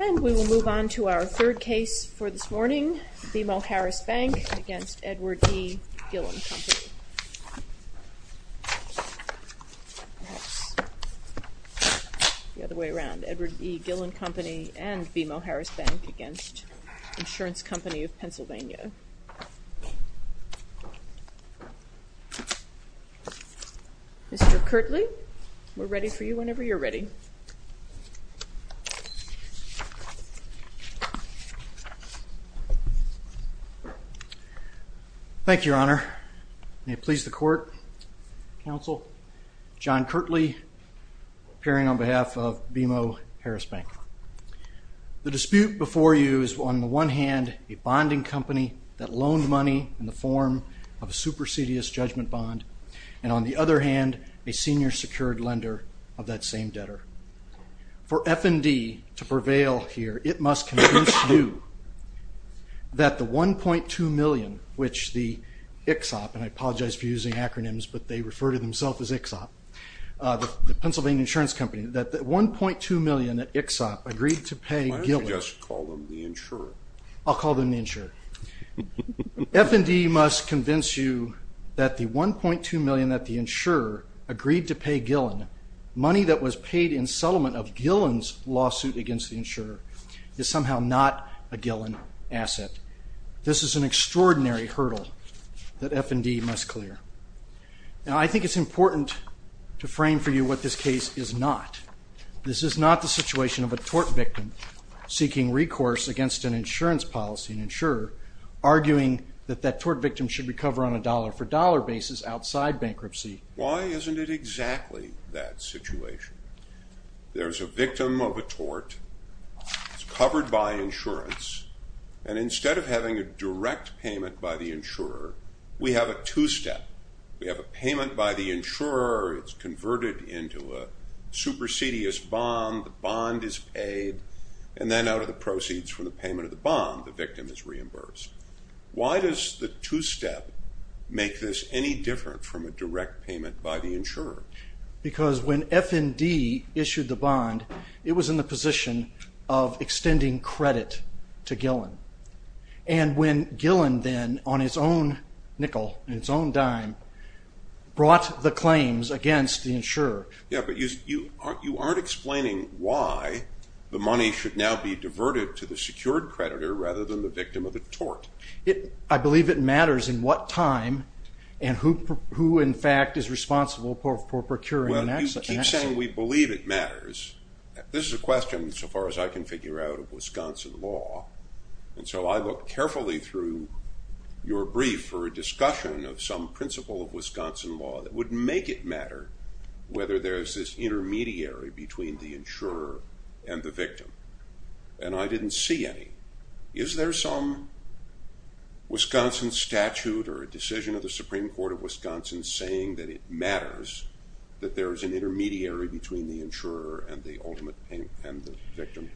And we will move on to our third case for this morning, BMO Harris Bank N.A. v. Edward E. Gillen Company. The other way around, Edward E. Gillen Company and BMO Harris Bank N.A. v. Insurance Company of Pennsylvania. Mr. Kirtley, we're ready for you whenever you're ready. Thank you, Your Honor. May it please the court, counsel, John Kirtley, appearing on behalf of BMO Harris Bank. The dispute before you is on the one hand a bonding company that loaned money in the form of a supersedious judgment bond, and on the other hand, a senior secured lender of that same debtor. For F&D to prevail here, it must convince you that the $1.2 million which the ICHSOP, and I apologize for using acronyms, but they refer to themselves as ICHSOP, the Pennsylvania Insurance Company, that the $1.2 million that ICHSOP agreed to pay Gillen. Why don't you just call them the insurer? I'll call them the insurer. F&D must convince you that the $1.2 million that the insurer agreed to pay Gillen, money that was paid in settlement of Gillen's lawsuit against the insurer, is somehow not a Gillen asset. This is an extraordinary hurdle that F&D must clear. Now, I think it's important to frame for you what this case is not. This is not the situation of a tort victim seeking recourse against an insurance policy, an insurer arguing that that tort victim should recover on a dollar-for-dollar basis outside bankruptcy. Why isn't it exactly that situation? There's a victim of a tort, it's covered by insurance, and instead of having a direct payment by the insurer, we have a two-step. We have a payment by the insurer, it's converted into a supersedious bond, the bond is paid, and then out of the proceeds from the payment of the bond, the victim is reimbursed. Why does the two-step make this any different from a direct payment by the insurer? Because when F&D issued the bond, it was in the position of extending credit to Gillen. And when Gillen then, on his own nickel and his own dime, brought the claims against the insurer. Yeah, but you aren't explaining why the money should now be diverted to the secured creditor rather than the victim of a tort. I believe it matters in what time and who, in fact, is responsible for procuring an asset. Well, you keep saying we believe it matters. This is a question, so far as I can figure out, of Wisconsin law. And so I looked carefully through your brief for a discussion of some principle of Wisconsin law that would make it matter whether there's this intermediary between the insurer and the victim. And I didn't see any. Is there some Wisconsin statute or a decision of the Supreme Court of Wisconsin saying that it matters that there is an intermediary between the insurer and the ultimate payment and the victim?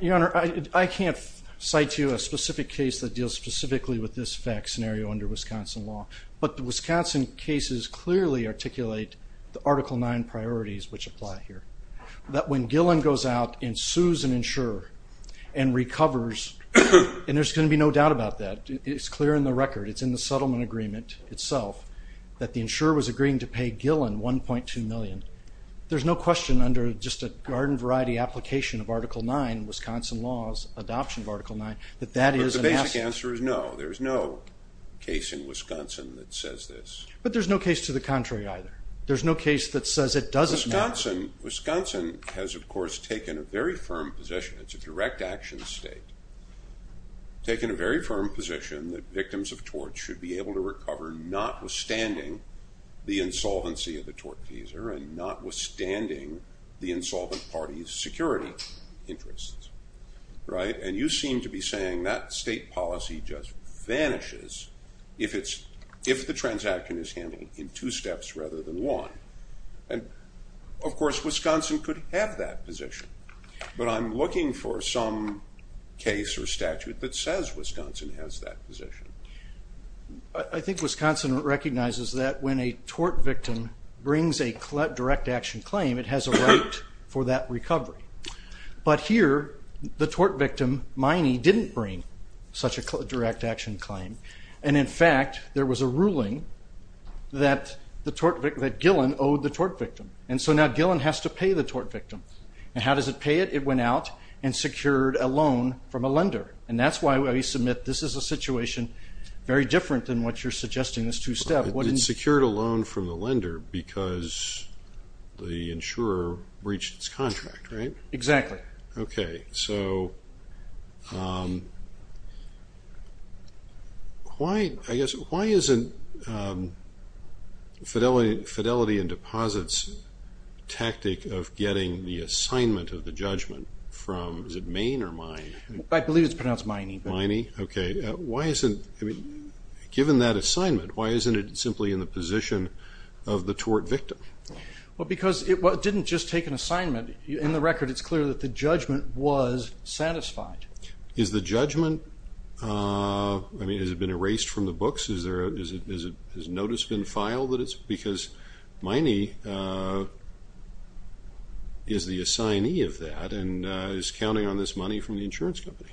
Your Honor, I can't cite to you a specific case that deals specifically with this fact scenario under Wisconsin law. But the Wisconsin cases clearly articulate the Article 9 priorities which apply here. That when Gillen goes out and sues an insurer and recovers, and there's going to be no doubt about that, it's clear in the record, it's in the settlement agreement itself, that the insurer was agreeing to pay Gillen $1.2 million. There's no question under just a garden variety application of Article 9, Wisconsin law's adoption of Article 9, that that is an asset. But the basic answer is no. There's no case in Wisconsin that says this. But there's no case to the contrary either. There's no case that says it doesn't matter. Wisconsin has, of course, taken a very firm position. It's a direct action state. Taken a very firm position that victims of tort should be able to recover notwithstanding the insolvency of the tort teaser and notwithstanding the insolvent party's security interests. And you seem to be saying that state policy just vanishes if the transaction is handled in two steps rather than one. And, of course, Wisconsin could have that position. But I'm looking for some case or statute that says Wisconsin has that position. I think Wisconsin recognizes that when a tort victim brings a direct action claim, it has a right for that recovery. But here, the tort victim, Miney, didn't bring such a direct action claim. And, in fact, there was a ruling that Gillen owed the tort victim. And so now Gillen has to pay the tort victim. And how does it pay it? It went out and secured a loan from a lender. And that's why we submit this is a situation very different than what you're suggesting, this two-step. It secured a loan from the lender because the insurer breached its contract, right? Exactly. Okay, so why isn't Fidelity and Deposits' tactic of getting the assignment of the judgment from, is it Maine or Miney? I believe it's pronounced Miney. Miney? Okay. Given that assignment, why isn't it simply in the position of the tort victim? Well, because it didn't just take an assignment. In the record, it's clear that the judgment was satisfied. Is the judgment, I mean, has it been erased from the books? Has notice been filed that it's because Miney is the assignee of that and is counting on this money from the insurance company?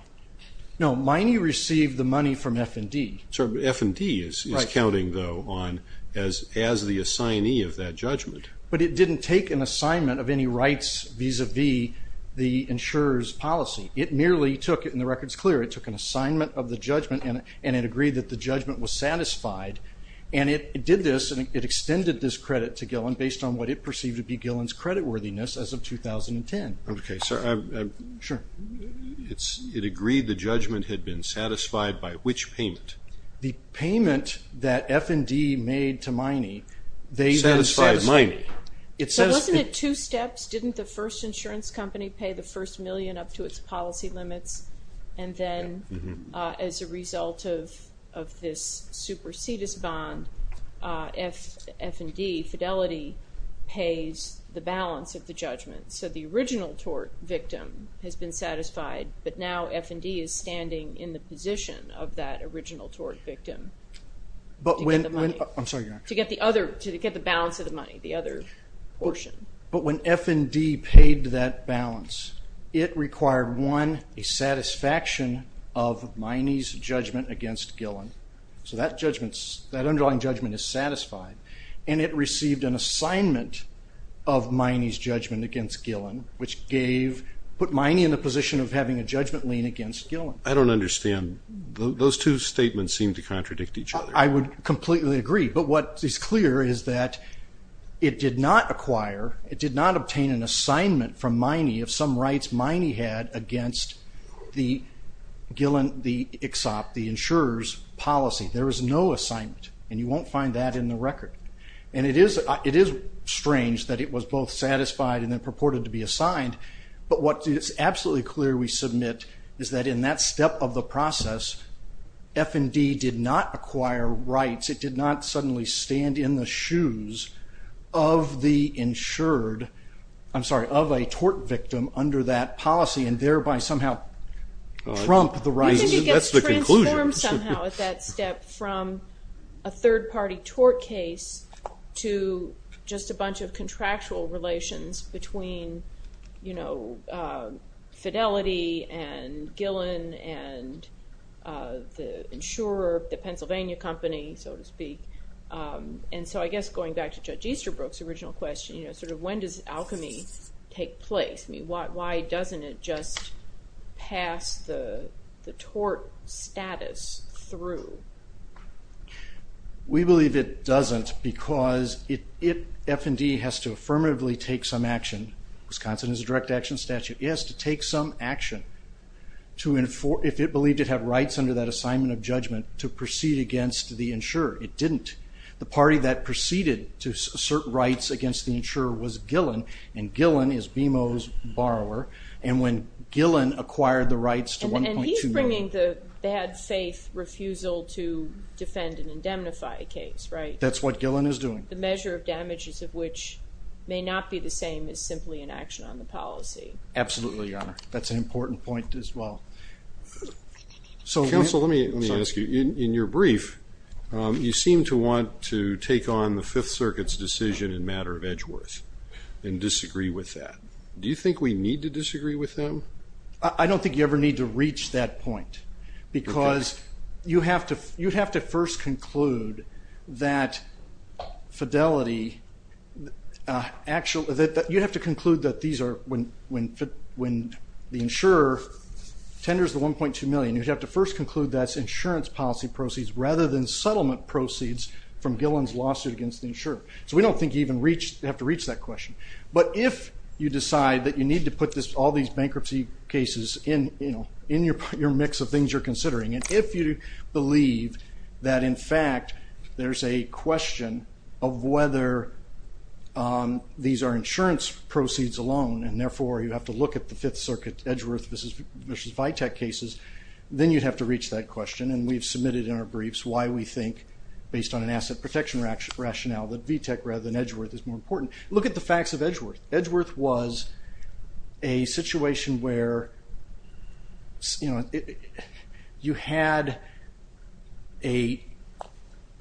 No, Miney received the money from F&D. F&D is counting, though, on as the assignee of that judgment. But it didn't take an assignment of any rights vis-à-vis the insurer's policy. It merely took, and the record is clear, it took an assignment of the judgment and it agreed that the judgment was satisfied, and it did this, and it extended this credit to Gillen based on what it perceived to be Gillen's creditworthiness as of 2010. Okay. Sure. It agreed the judgment had been satisfied by which payment? The payment that F&D made to Miney. Satisfied Miney. But wasn't it two steps? Didn't the first insurance company pay the first million up to its policy limits? And then as a result of this supersedis bond, F&D, Fidelity, pays the balance of the judgment. So the original tort victim has been satisfied, but now F&D is standing in the position of that original tort victim to get the money. I'm sorry, Your Honor. To get the balance of the money, the other portion. But when F&D paid that balance, it required, one, a satisfaction of Miney's judgment against Gillen. So that underlying judgment is satisfied, and it received an assignment of Miney's judgment against Gillen, which put Miney in the position of having a judgment lien against Gillen. I don't understand. Those two statements seem to contradict each other. I would completely agree. But what is clear is that it did not acquire, it did not obtain an assignment from Miney of some rights Miney had against the Insurer's Policy. There is no assignment, and you won't find that in the record. And it is strange that it was both satisfied and then purported to be assigned. But what is absolutely clear, we submit, is that in that step of the process, F&D did not acquire rights. It did not suddenly stand in the shoes of the insured, I'm sorry, of a tort victim under that policy and thereby somehow trump the rights. That's the conclusion. You think it gets transformed somehow at that step from a third-party tort case to just a bunch of contractual relations between, you know, Fidelity and Gillen and the insurer, the Pennsylvania company, so to speak. And so I guess going back to Judge Easterbrook's original question, you know, sort of when does alchemy take place? I mean, why doesn't it just pass the tort status through? We believe it doesn't because F&D has to affirmatively take some action. Wisconsin has a direct action statute. It has to take some action if it believed it had rights under that assignment of judgment to proceed against the insurer. It didn't. The party that proceeded to assert rights against the insurer was Gillen, and Gillen is BMO's borrower. And when Gillen acquired the rights to $1.2 million. And he's bringing the bad-faith refusal to defend and indemnify case, right? That's what Gillen is doing. The measure of damages of which may not be the same is simply an action on the policy. Absolutely, Your Honor. That's an important point as well. Counsel, let me ask you, in your brief, you seem to want to take on the Fifth Circuit's decision in matter of Edgeworth and disagree with that. Do you think we need to disagree with them? I don't think you ever need to reach that point because you have to first conclude that fidelity actually you have to conclude that these are when the insurer tenders the $1.2 million, you have to first conclude that's insurance policy proceeds rather than settlement proceeds from Gillen's lawsuit against the insurer. So we don't think you even have to reach that question. But if you decide that you need to put all these bankruptcy cases in your mix of things you're considering, and if you believe that, in fact, there's a question of whether these are insurance proceeds alone and, therefore, you have to look at the Fifth Circuit Edgeworth versus Vitek cases, then you'd have to reach that question. And we've submitted in our briefs why we think, based on an asset protection rationale, that Vitek rather than Edgeworth is more important. Look at the facts of Edgeworth. Edgeworth was a situation where you had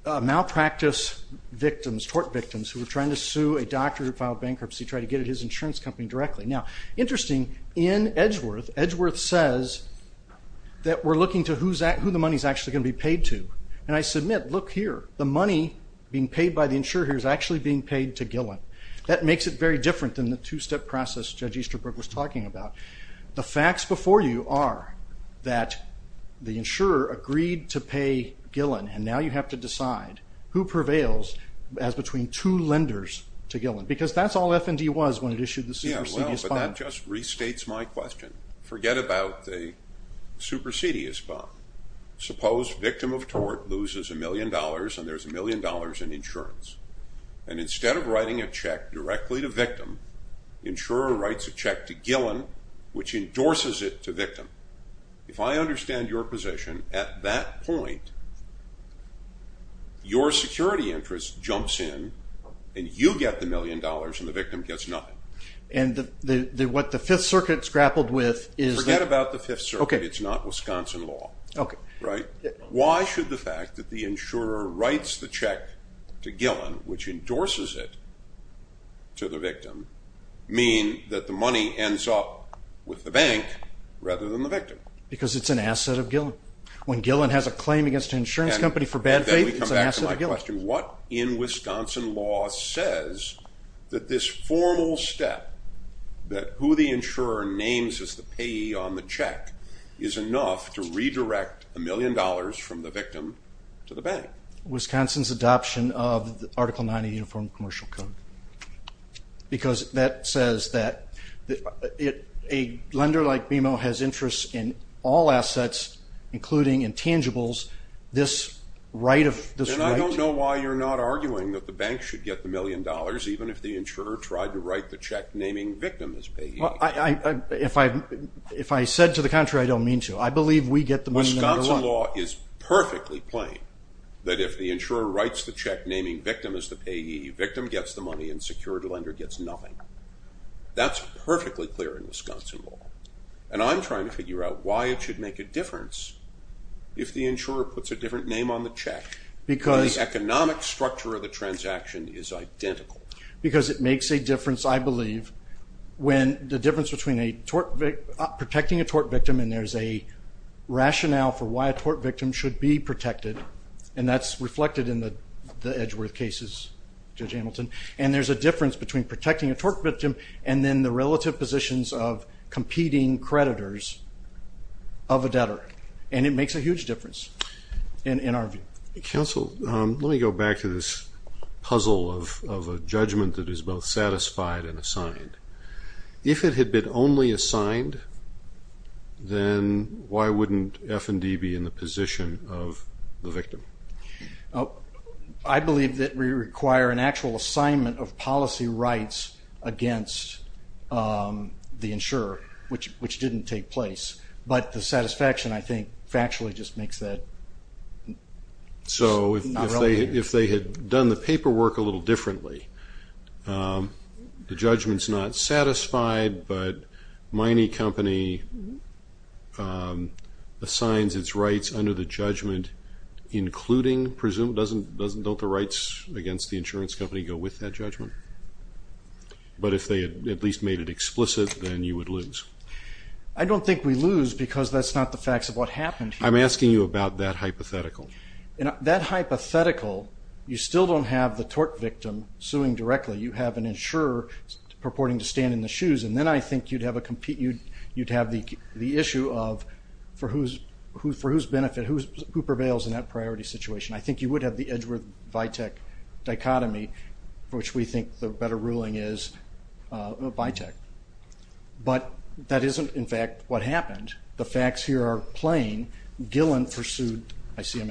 malpractice victims, tort victims, who were trying to sue a doctor who filed bankruptcy to try to get at his insurance company directly. Now, interesting, in Edgeworth, Edgeworth says that we're looking to who the money is actually going to be paid to. And I submit, look here, the money being paid by the insurer here is actually being paid to Gillen. That makes it very different than the two-step process Judge Easterbrook was talking about. The facts before you are that the insurer agreed to pay Gillen, and now you have to decide who prevails as between two lenders to Gillen, because that's all F&D was when it issued the supersedious bond. Yeah, well, but that just restates my question. Forget about the supersedious bond. Suppose victim of tort loses a million dollars and there's a million dollars in insurance. And instead of writing a check directly to victim, insurer writes a check to Gillen, which endorses it to victim. If I understand your position, at that point, your security interest jumps in, and you get the million dollars and the victim gets nothing. And what the Fifth Circuit's grappled with is that— Forget about the Fifth Circuit. It's not Wisconsin law. Why should the fact that the insurer writes the check to Gillen, which endorses it to the victim, mean that the money ends up with the bank rather than the victim? Because it's an asset of Gillen. When Gillen has a claim against an insurance company for bad faith, it's an asset of Gillen. What in Wisconsin law says that this formal step, that who the insurer names as the payee on the check, is enough to redirect a million dollars from the victim to the bank? Wisconsin's adoption of Article 9 of the Uniform Commercial Code. Because that says that a lender like BMO has interest in all assets, including intangibles, this right of— Then I don't know why you're not arguing that the bank should get the million dollars, even if the insurer tried to write the check naming victim as payee. If I said to the contrary, I don't mean to. I believe we get the million dollars. Wisconsin law is perfectly plain that if the insurer writes the check naming victim as the payee, victim gets the money and secured lender gets nothing. That's perfectly clear in Wisconsin law. And I'm trying to figure out why it should make a difference if the insurer puts a different name on the check. The economic structure of the transaction is identical. Because it makes a difference, I believe, when the difference between protecting a tort victim, and there's a rationale for why a tort victim should be protected, and that's reflected in the Edgeworth cases, Judge Hamilton, and there's a difference between protecting a tort victim and then the relative positions of competing creditors of a debtor. And it makes a huge difference in our view. Counsel, let me go back to this puzzle of a judgment that is both satisfied and assigned. If it had been only assigned, then why wouldn't F&D be in the position of the victim? I believe that we require an actual assignment of policy rights against the insurer, which didn't take place. But the satisfaction, I think, factually just makes that not relevant. So if they had done the paperwork a little differently, the judgment's not satisfied, but the mining company assigns its rights under the judgment including, don't the rights against the insurance company go with that judgment? But if they had at least made it explicit, then you would lose. I don't think we lose because that's not the facts of what happened. I'm asking you about that hypothetical. That hypothetical, you still don't have the tort victim suing directly. You have an insurer purporting to stand in the shoes, and then I think you'd have the issue of for whose benefit, who prevails in that priority situation. I think you would have the Edgeworth-Vitek dichotomy, for which we think the better ruling is Vitek. But that isn't, in fact, what happened. The facts here are plain. Gillen pursued the claim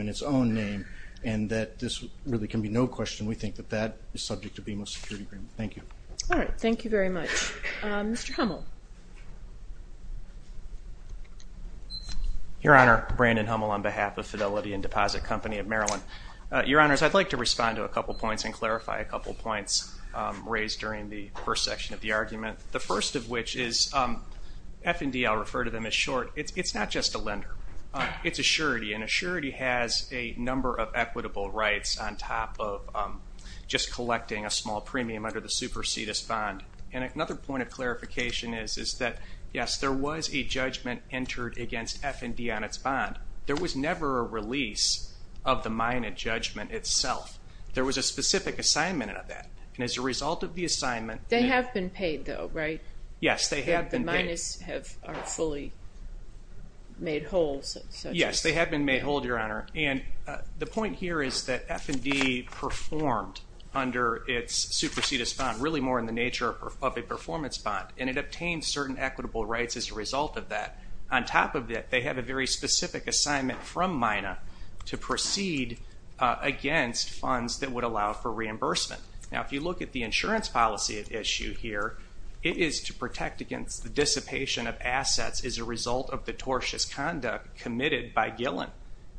in its own name, and that this really can be no question. We think that that is subject to BMO's security agreement. Thank you. All right. Thank you very much. Mr. Hummel. Your Honor, Brandon Hummel on behalf of Fidelity and Deposit Company of Maryland. Your Honors, I'd like to respond to a couple points and clarify a couple points raised during the first section of the argument, the first of which is F&D, I'll refer to them as short. It's not just a lender. It's a surety, and a surety has a number of equitable rights on top of just supersedis bond. And another point of clarification is that, yes, there was a judgment entered against F&D on its bond. There was never a release of the minor judgment itself. There was a specific assignment of that, and as a result of the assignment. They have been paid, though, right? Yes, they have been paid. The minors are fully made whole. Yes, they have been made whole, Your Honor. And the point here is that F&D performed under its supersedis bond really more in the nature of a performance bond, and it obtained certain equitable rights as a result of that. On top of that, they have a very specific assignment from MINA to proceed against funds that would allow for reimbursement. Now, if you look at the insurance policy issue here, it is to protect against the dissipation of assets as a result of the tortious conduct committed by Gillen.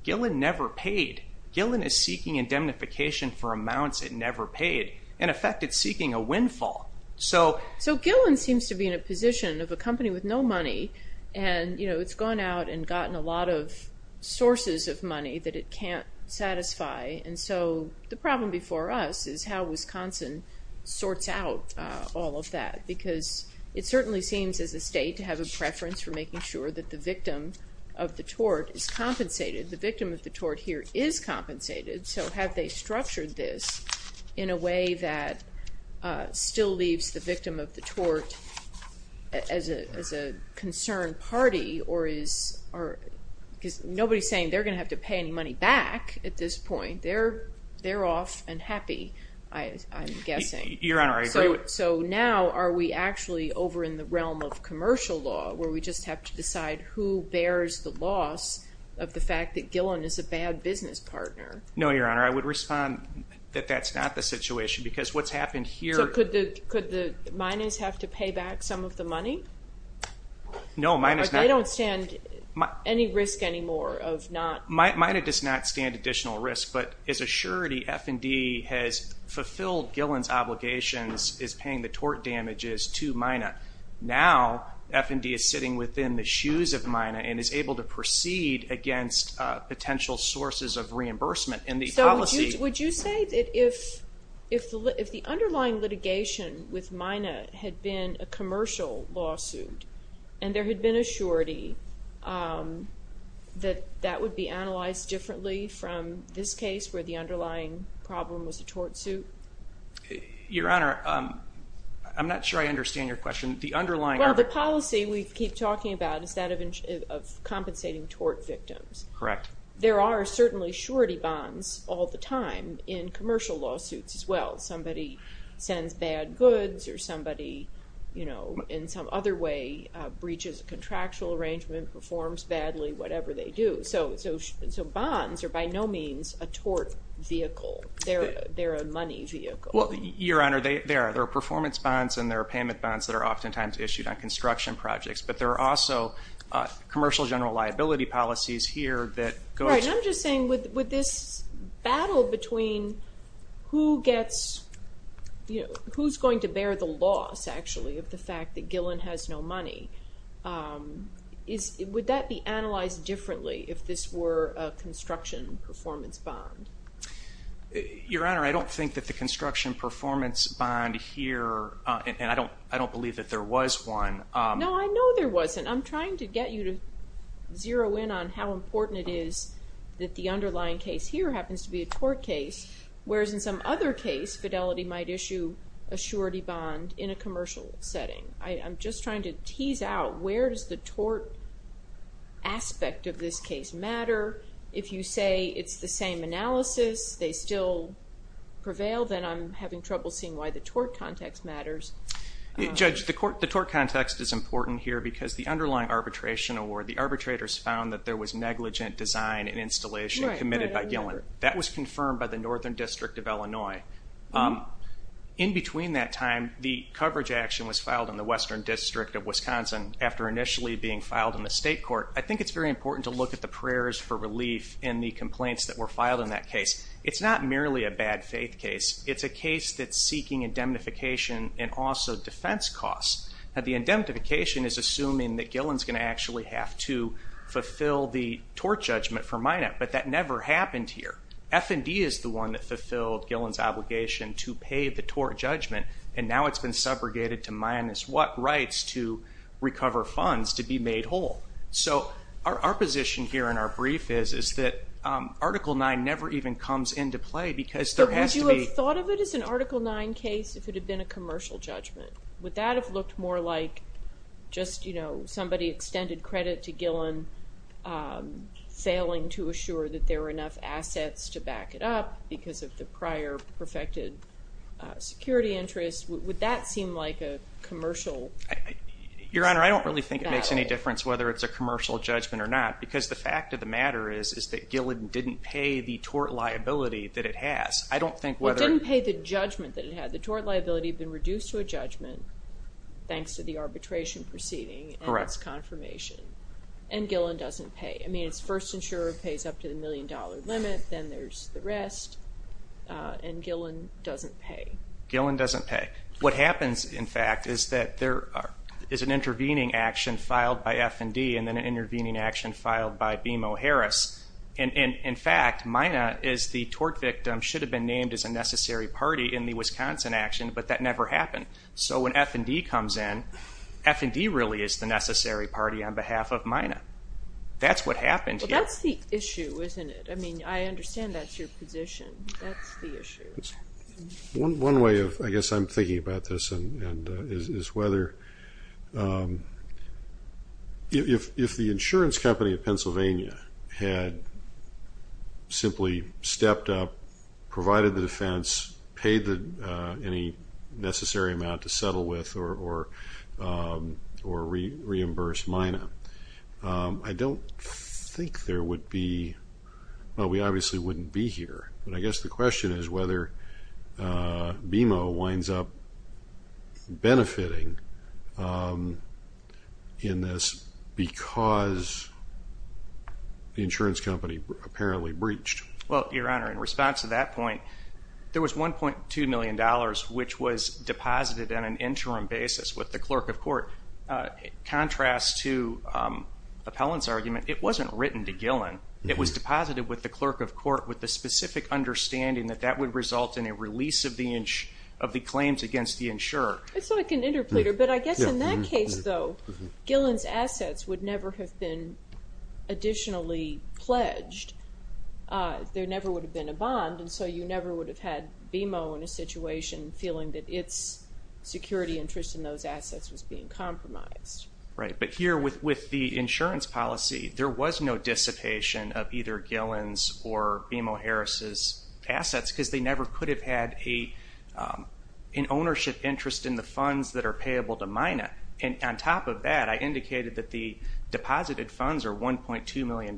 Gillen never paid. Gillen is seeking indemnification for amounts it never paid. In effect, it's seeking a windfall. So Gillen seems to be in a position of a company with no money, and it's gone out and gotten a lot of sources of money that it can't satisfy, and so the problem before us is how Wisconsin sorts out all of that because it certainly seems as a state to have a preference for making sure that the victim of the tort is compensated. The victim of the tort here is compensated, so have they structured this in a way that still leaves the victim of the tort as a concerned party or is nobody saying they're going to have to pay any money back at this point. They're off and happy, I'm guessing. Your Honor, I agree with you. So now are we actually over in the realm of commercial law where we just have to decide who bears the loss of the fact that Gillen is a bad business partner? No, Your Honor, I would respond that that's not the situation because what's happened here. So could the minors have to pay back some of the money? No, minors not. They don't stand any risk anymore of not. Mina does not stand additional risk, but as a surety F&D has fulfilled Gillen's obligations, is paying the tort damages to Mina. Now F&D is sitting within the shoes of Mina and is able to proceed against potential sources of reimbursement. So would you say that if the underlying litigation with Mina had been a commercial lawsuit and there had been a surety that that would be analyzed differently from this case where the underlying problem was a tort suit? Your Honor, I'm not sure I understand your question. Well, the policy we keep talking about is that of compensating tort victims. Correct. There are certainly surety bonds all the time in commercial lawsuits as well. Somebody sends bad goods or somebody, you know, in some other way breaches a contractual arrangement, performs badly, whatever they do. So bonds are by no means a tort vehicle. They're a money vehicle. Well, Your Honor, there are performance bonds and there are payment bonds that are oftentimes issued on construction projects, but there are also commercial general liability policies here that go to. Right. And I'm just saying with this battle between who gets, you know, who's going to bear the loss actually of the fact that Gillen has no money, would that be analyzed differently if this were a construction performance bond? Your Honor, I don't think that the construction performance bond here, and I don't believe that there was one. No, I know there wasn't. I'm trying to get you to zero in on how important it is that the underlying case here happens to be a tort case, whereas in some other case, fidelity might issue a surety bond in a commercial setting. I'm just trying to tease out where does the tort aspect of this case matter. If you say it's the same analysis, they still prevail, then I'm having trouble seeing why the tort context matters. Judge, the tort context is important here because the underlying arbitration, or the arbitrators found that there was negligent design and installation committed by Gillen. That was confirmed by the Northern District of Illinois. In between that time, the coverage action was filed in the Western District of Wisconsin after initially being filed in the state court. I think it's very important to look at the prayers for relief and the complaints that were filed in that case. It's not merely a bad faith case. It's a case that's seeking indemnification and also defense costs. The indemnification is assuming that Gillen's going to actually have to fulfill the tort judgment for Minot, but that never happened here. F&D is the one that fulfilled Gillen's obligation to pay the tort judgment, and now it's been subrogated to Minot's rights to recover funds to be made whole. Our position here in our brief is that Article 9 never even comes into play because there has to be... Would you have thought of it as an Article 9 case if it had been a commercial judgment? Would that have looked more like just somebody extended credit to Gillen, failing to assure that there were enough assets to back it up because of the prior perfected security interest? Would that seem like a commercial... Your Honor, I don't really think it makes any difference whether it's a commercial judgment or not because the fact of the matter is that Gillen didn't pay the tort liability that it has. I don't think whether... It didn't pay the judgment that it had. The tort liability had been reduced to a judgment thanks to the arbitration proceeding and its confirmation, and Gillen doesn't pay. I mean, its first insurer pays up to the million-dollar limit, then there's the rest, and Gillen doesn't pay. Gillen doesn't pay. What happens, in fact, is that there is an intervening action filed by F&D and then an intervening action filed by BMO Harris, and, in fact, Mina is the tort victim, should have been named as a necessary party in the Wisconsin action, but that never happened. So when F&D comes in, F&D really is the necessary party on behalf of Mina. That's what happened here. Well, that's the issue, isn't it? I mean, I understand that's your position. That's the issue. One way of, I guess I'm thinking about this, is whether if the insurance company of Pennsylvania had simply stepped up, provided the defense, paid any necessary amount to settle with or reimbursed Mina, I don't think there would be – well, we obviously wouldn't be here, but I guess the question is whether BMO winds up benefiting in this because the insurance company apparently breached. Well, Your Honor, in response to that point, there was $1.2 million which was deposited on an interim basis with the clerk of court. Contrast to Appellant's argument, it wasn't written to Gillen. It was deposited with the clerk of court with the specific understanding that that would result in a release of the claims against the insurer. It's like an interpleader, but I guess in that case, though, Gillen's assets would never have been additionally pledged. There never would have been a bond, and so you never would have had BMO in a situation feeling that its security interest in those assets was being compromised. Right, but here with the insurance policy, there was no dissipation of either Gillen's or BMO Harris' assets because they never could have had an ownership interest in the funds that are payable to Mina. And on top of that, I indicated that the deposited funds are $1.2 million.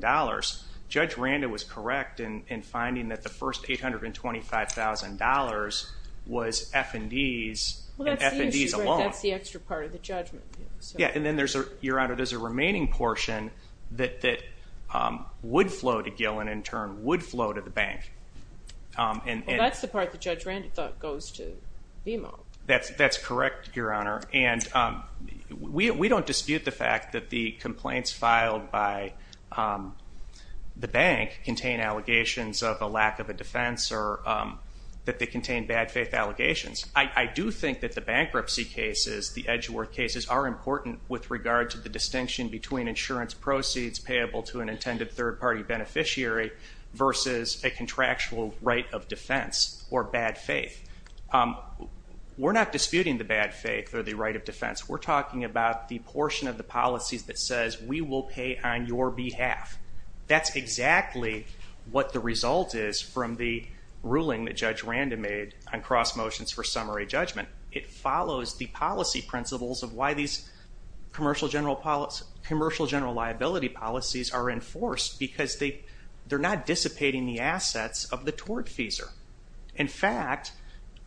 Judge Randa was correct in finding that the first $825,000 was F&D's and F&D's alone. Well, that's the issue, right? That's the extra part of the judgment. Yeah, and then there's, Your Honor, there's a remaining portion that would flow to Gillen and in turn would flow to the bank. Well, that's the part that Judge Randa thought goes to BMO. That's correct, Your Honor. And we don't dispute the fact that the complaints filed by the bank contain allegations of a lack of a defense or that they contain bad faith allegations. I do think that the bankruptcy cases, the Edgeworth cases, are important with regard to the distinction between insurance proceeds payable to an intended third-party beneficiary versus a contractual right of defense or bad faith. We're not disputing the bad faith or the right of defense. We're talking about the portion of the policy that says we will pay on your behalf. That's exactly what the result is from the ruling that Judge Randa made on cross motions for summary judgment. It follows the policy principles of why these commercial general liability policies are enforced because they're not dissipating the assets of the tortfeasor. In fact,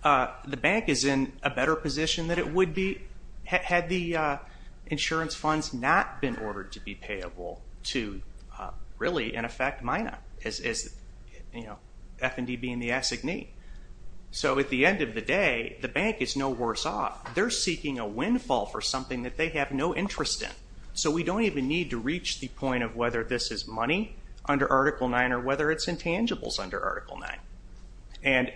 the bank is in a better position than it would be had the insurance funds not been ordered to be payable to really, in effect, Mina, F&D being the assignee. So at the end of the day, the bank is no worse off. They're seeking a windfall for something that they have no interest in. So we don't even need to reach the point of whether this is money under Article 9 or whether it's intangibles under Article 9. And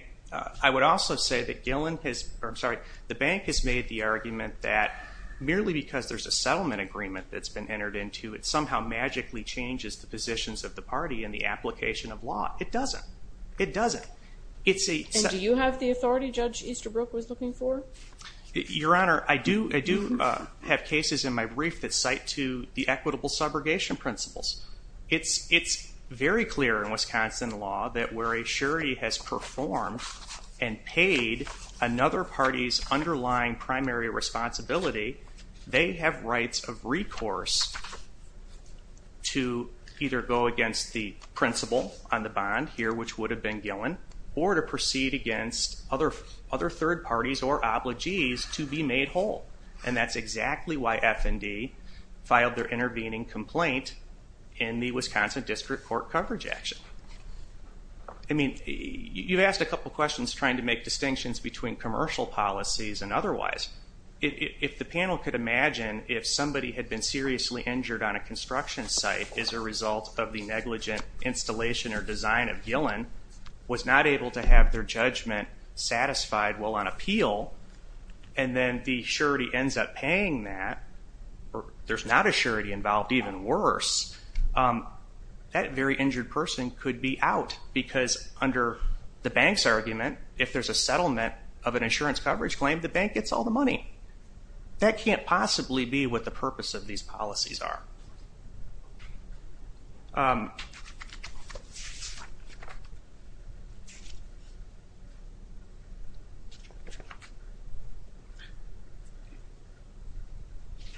I would also say that the bank has made the argument that merely because there's a settlement agreement that's been entered into, it somehow magically changes the positions of the party in the application of law. It doesn't. It doesn't. And do you have the authority Judge Easterbrook was looking for? Your Honor, I do have cases in my brief that cite to the equitable subrogation principles. It's very clear in Wisconsin law that where a surety has performed and paid another party's underlying primary responsibility, they have rights of recourse to either go against the principle on the bond here, which would have been Gillen, or to proceed against other third parties or obligees to be made whole. And that's exactly why F&D filed their intervening complaint in the Wisconsin District Court coverage action. I mean, you've asked a couple questions trying to make distinctions between commercial policies and otherwise. If the panel could imagine if somebody had been seriously injured on a construction site as a result of the negligent installation or design of Gillen, was not able to have their judgment satisfied while on appeal, and then the surety ends up paying that, or there's not a surety involved, even worse, that very injured person could be out. Because under the bank's argument, if there's a settlement of an insurance coverage claim, the bank gets all the money. That can't possibly be what the purpose of these policies are.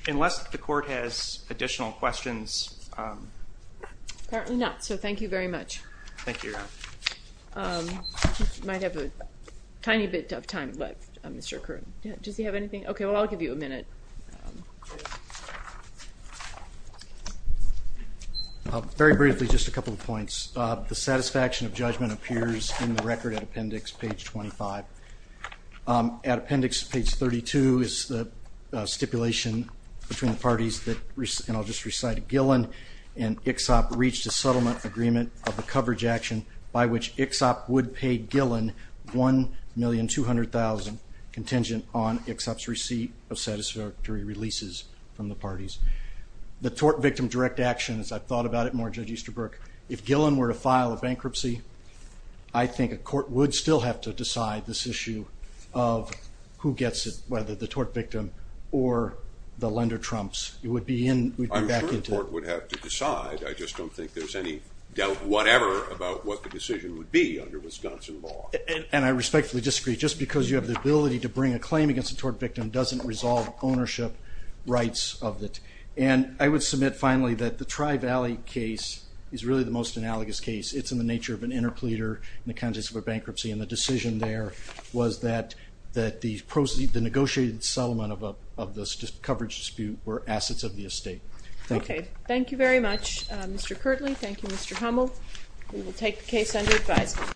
Unless the court has additional questions. Apparently not, so thank you very much. Thank you. We might have a tiny bit of time left, Mr. Kroon. Does he have anything? Okay, well, I'll give you a minute. Very briefly, just a couple of points. The satisfaction of judgment appears in the record at appendix page 25. At appendix page 32 is the stipulation between the parties that, and I'll just recite it, and ICSOP reached a settlement agreement of the coverage action by which ICSOP would pay Gillen $1,200,000 contingent on ICSOP's receipt of satisfactory releases from the parties. The tort victim direct action, as I've thought about it more, Judge Easterbrook, if Gillen were to file a bankruptcy, I think a court would still have to decide this issue of who gets it, whether the tort victim or the lender trumps. I'm sure a court would have to decide. I just don't think there's any doubt whatever about what the decision would be under Wisconsin law. And I respectfully disagree. Just because you have the ability to bring a claim against a tort victim doesn't resolve ownership rights of it. And I would submit finally that the Tri-Valley case is really the most analogous case. It's in the nature of an interpleader in the context of a bankruptcy, and the decision there was that the negotiated settlement of the coverage dispute were assets of the estate. Okay. Thank you very much, Mr. Kirtley. Thank you, Mr. Hummel. We will take the case under advisement.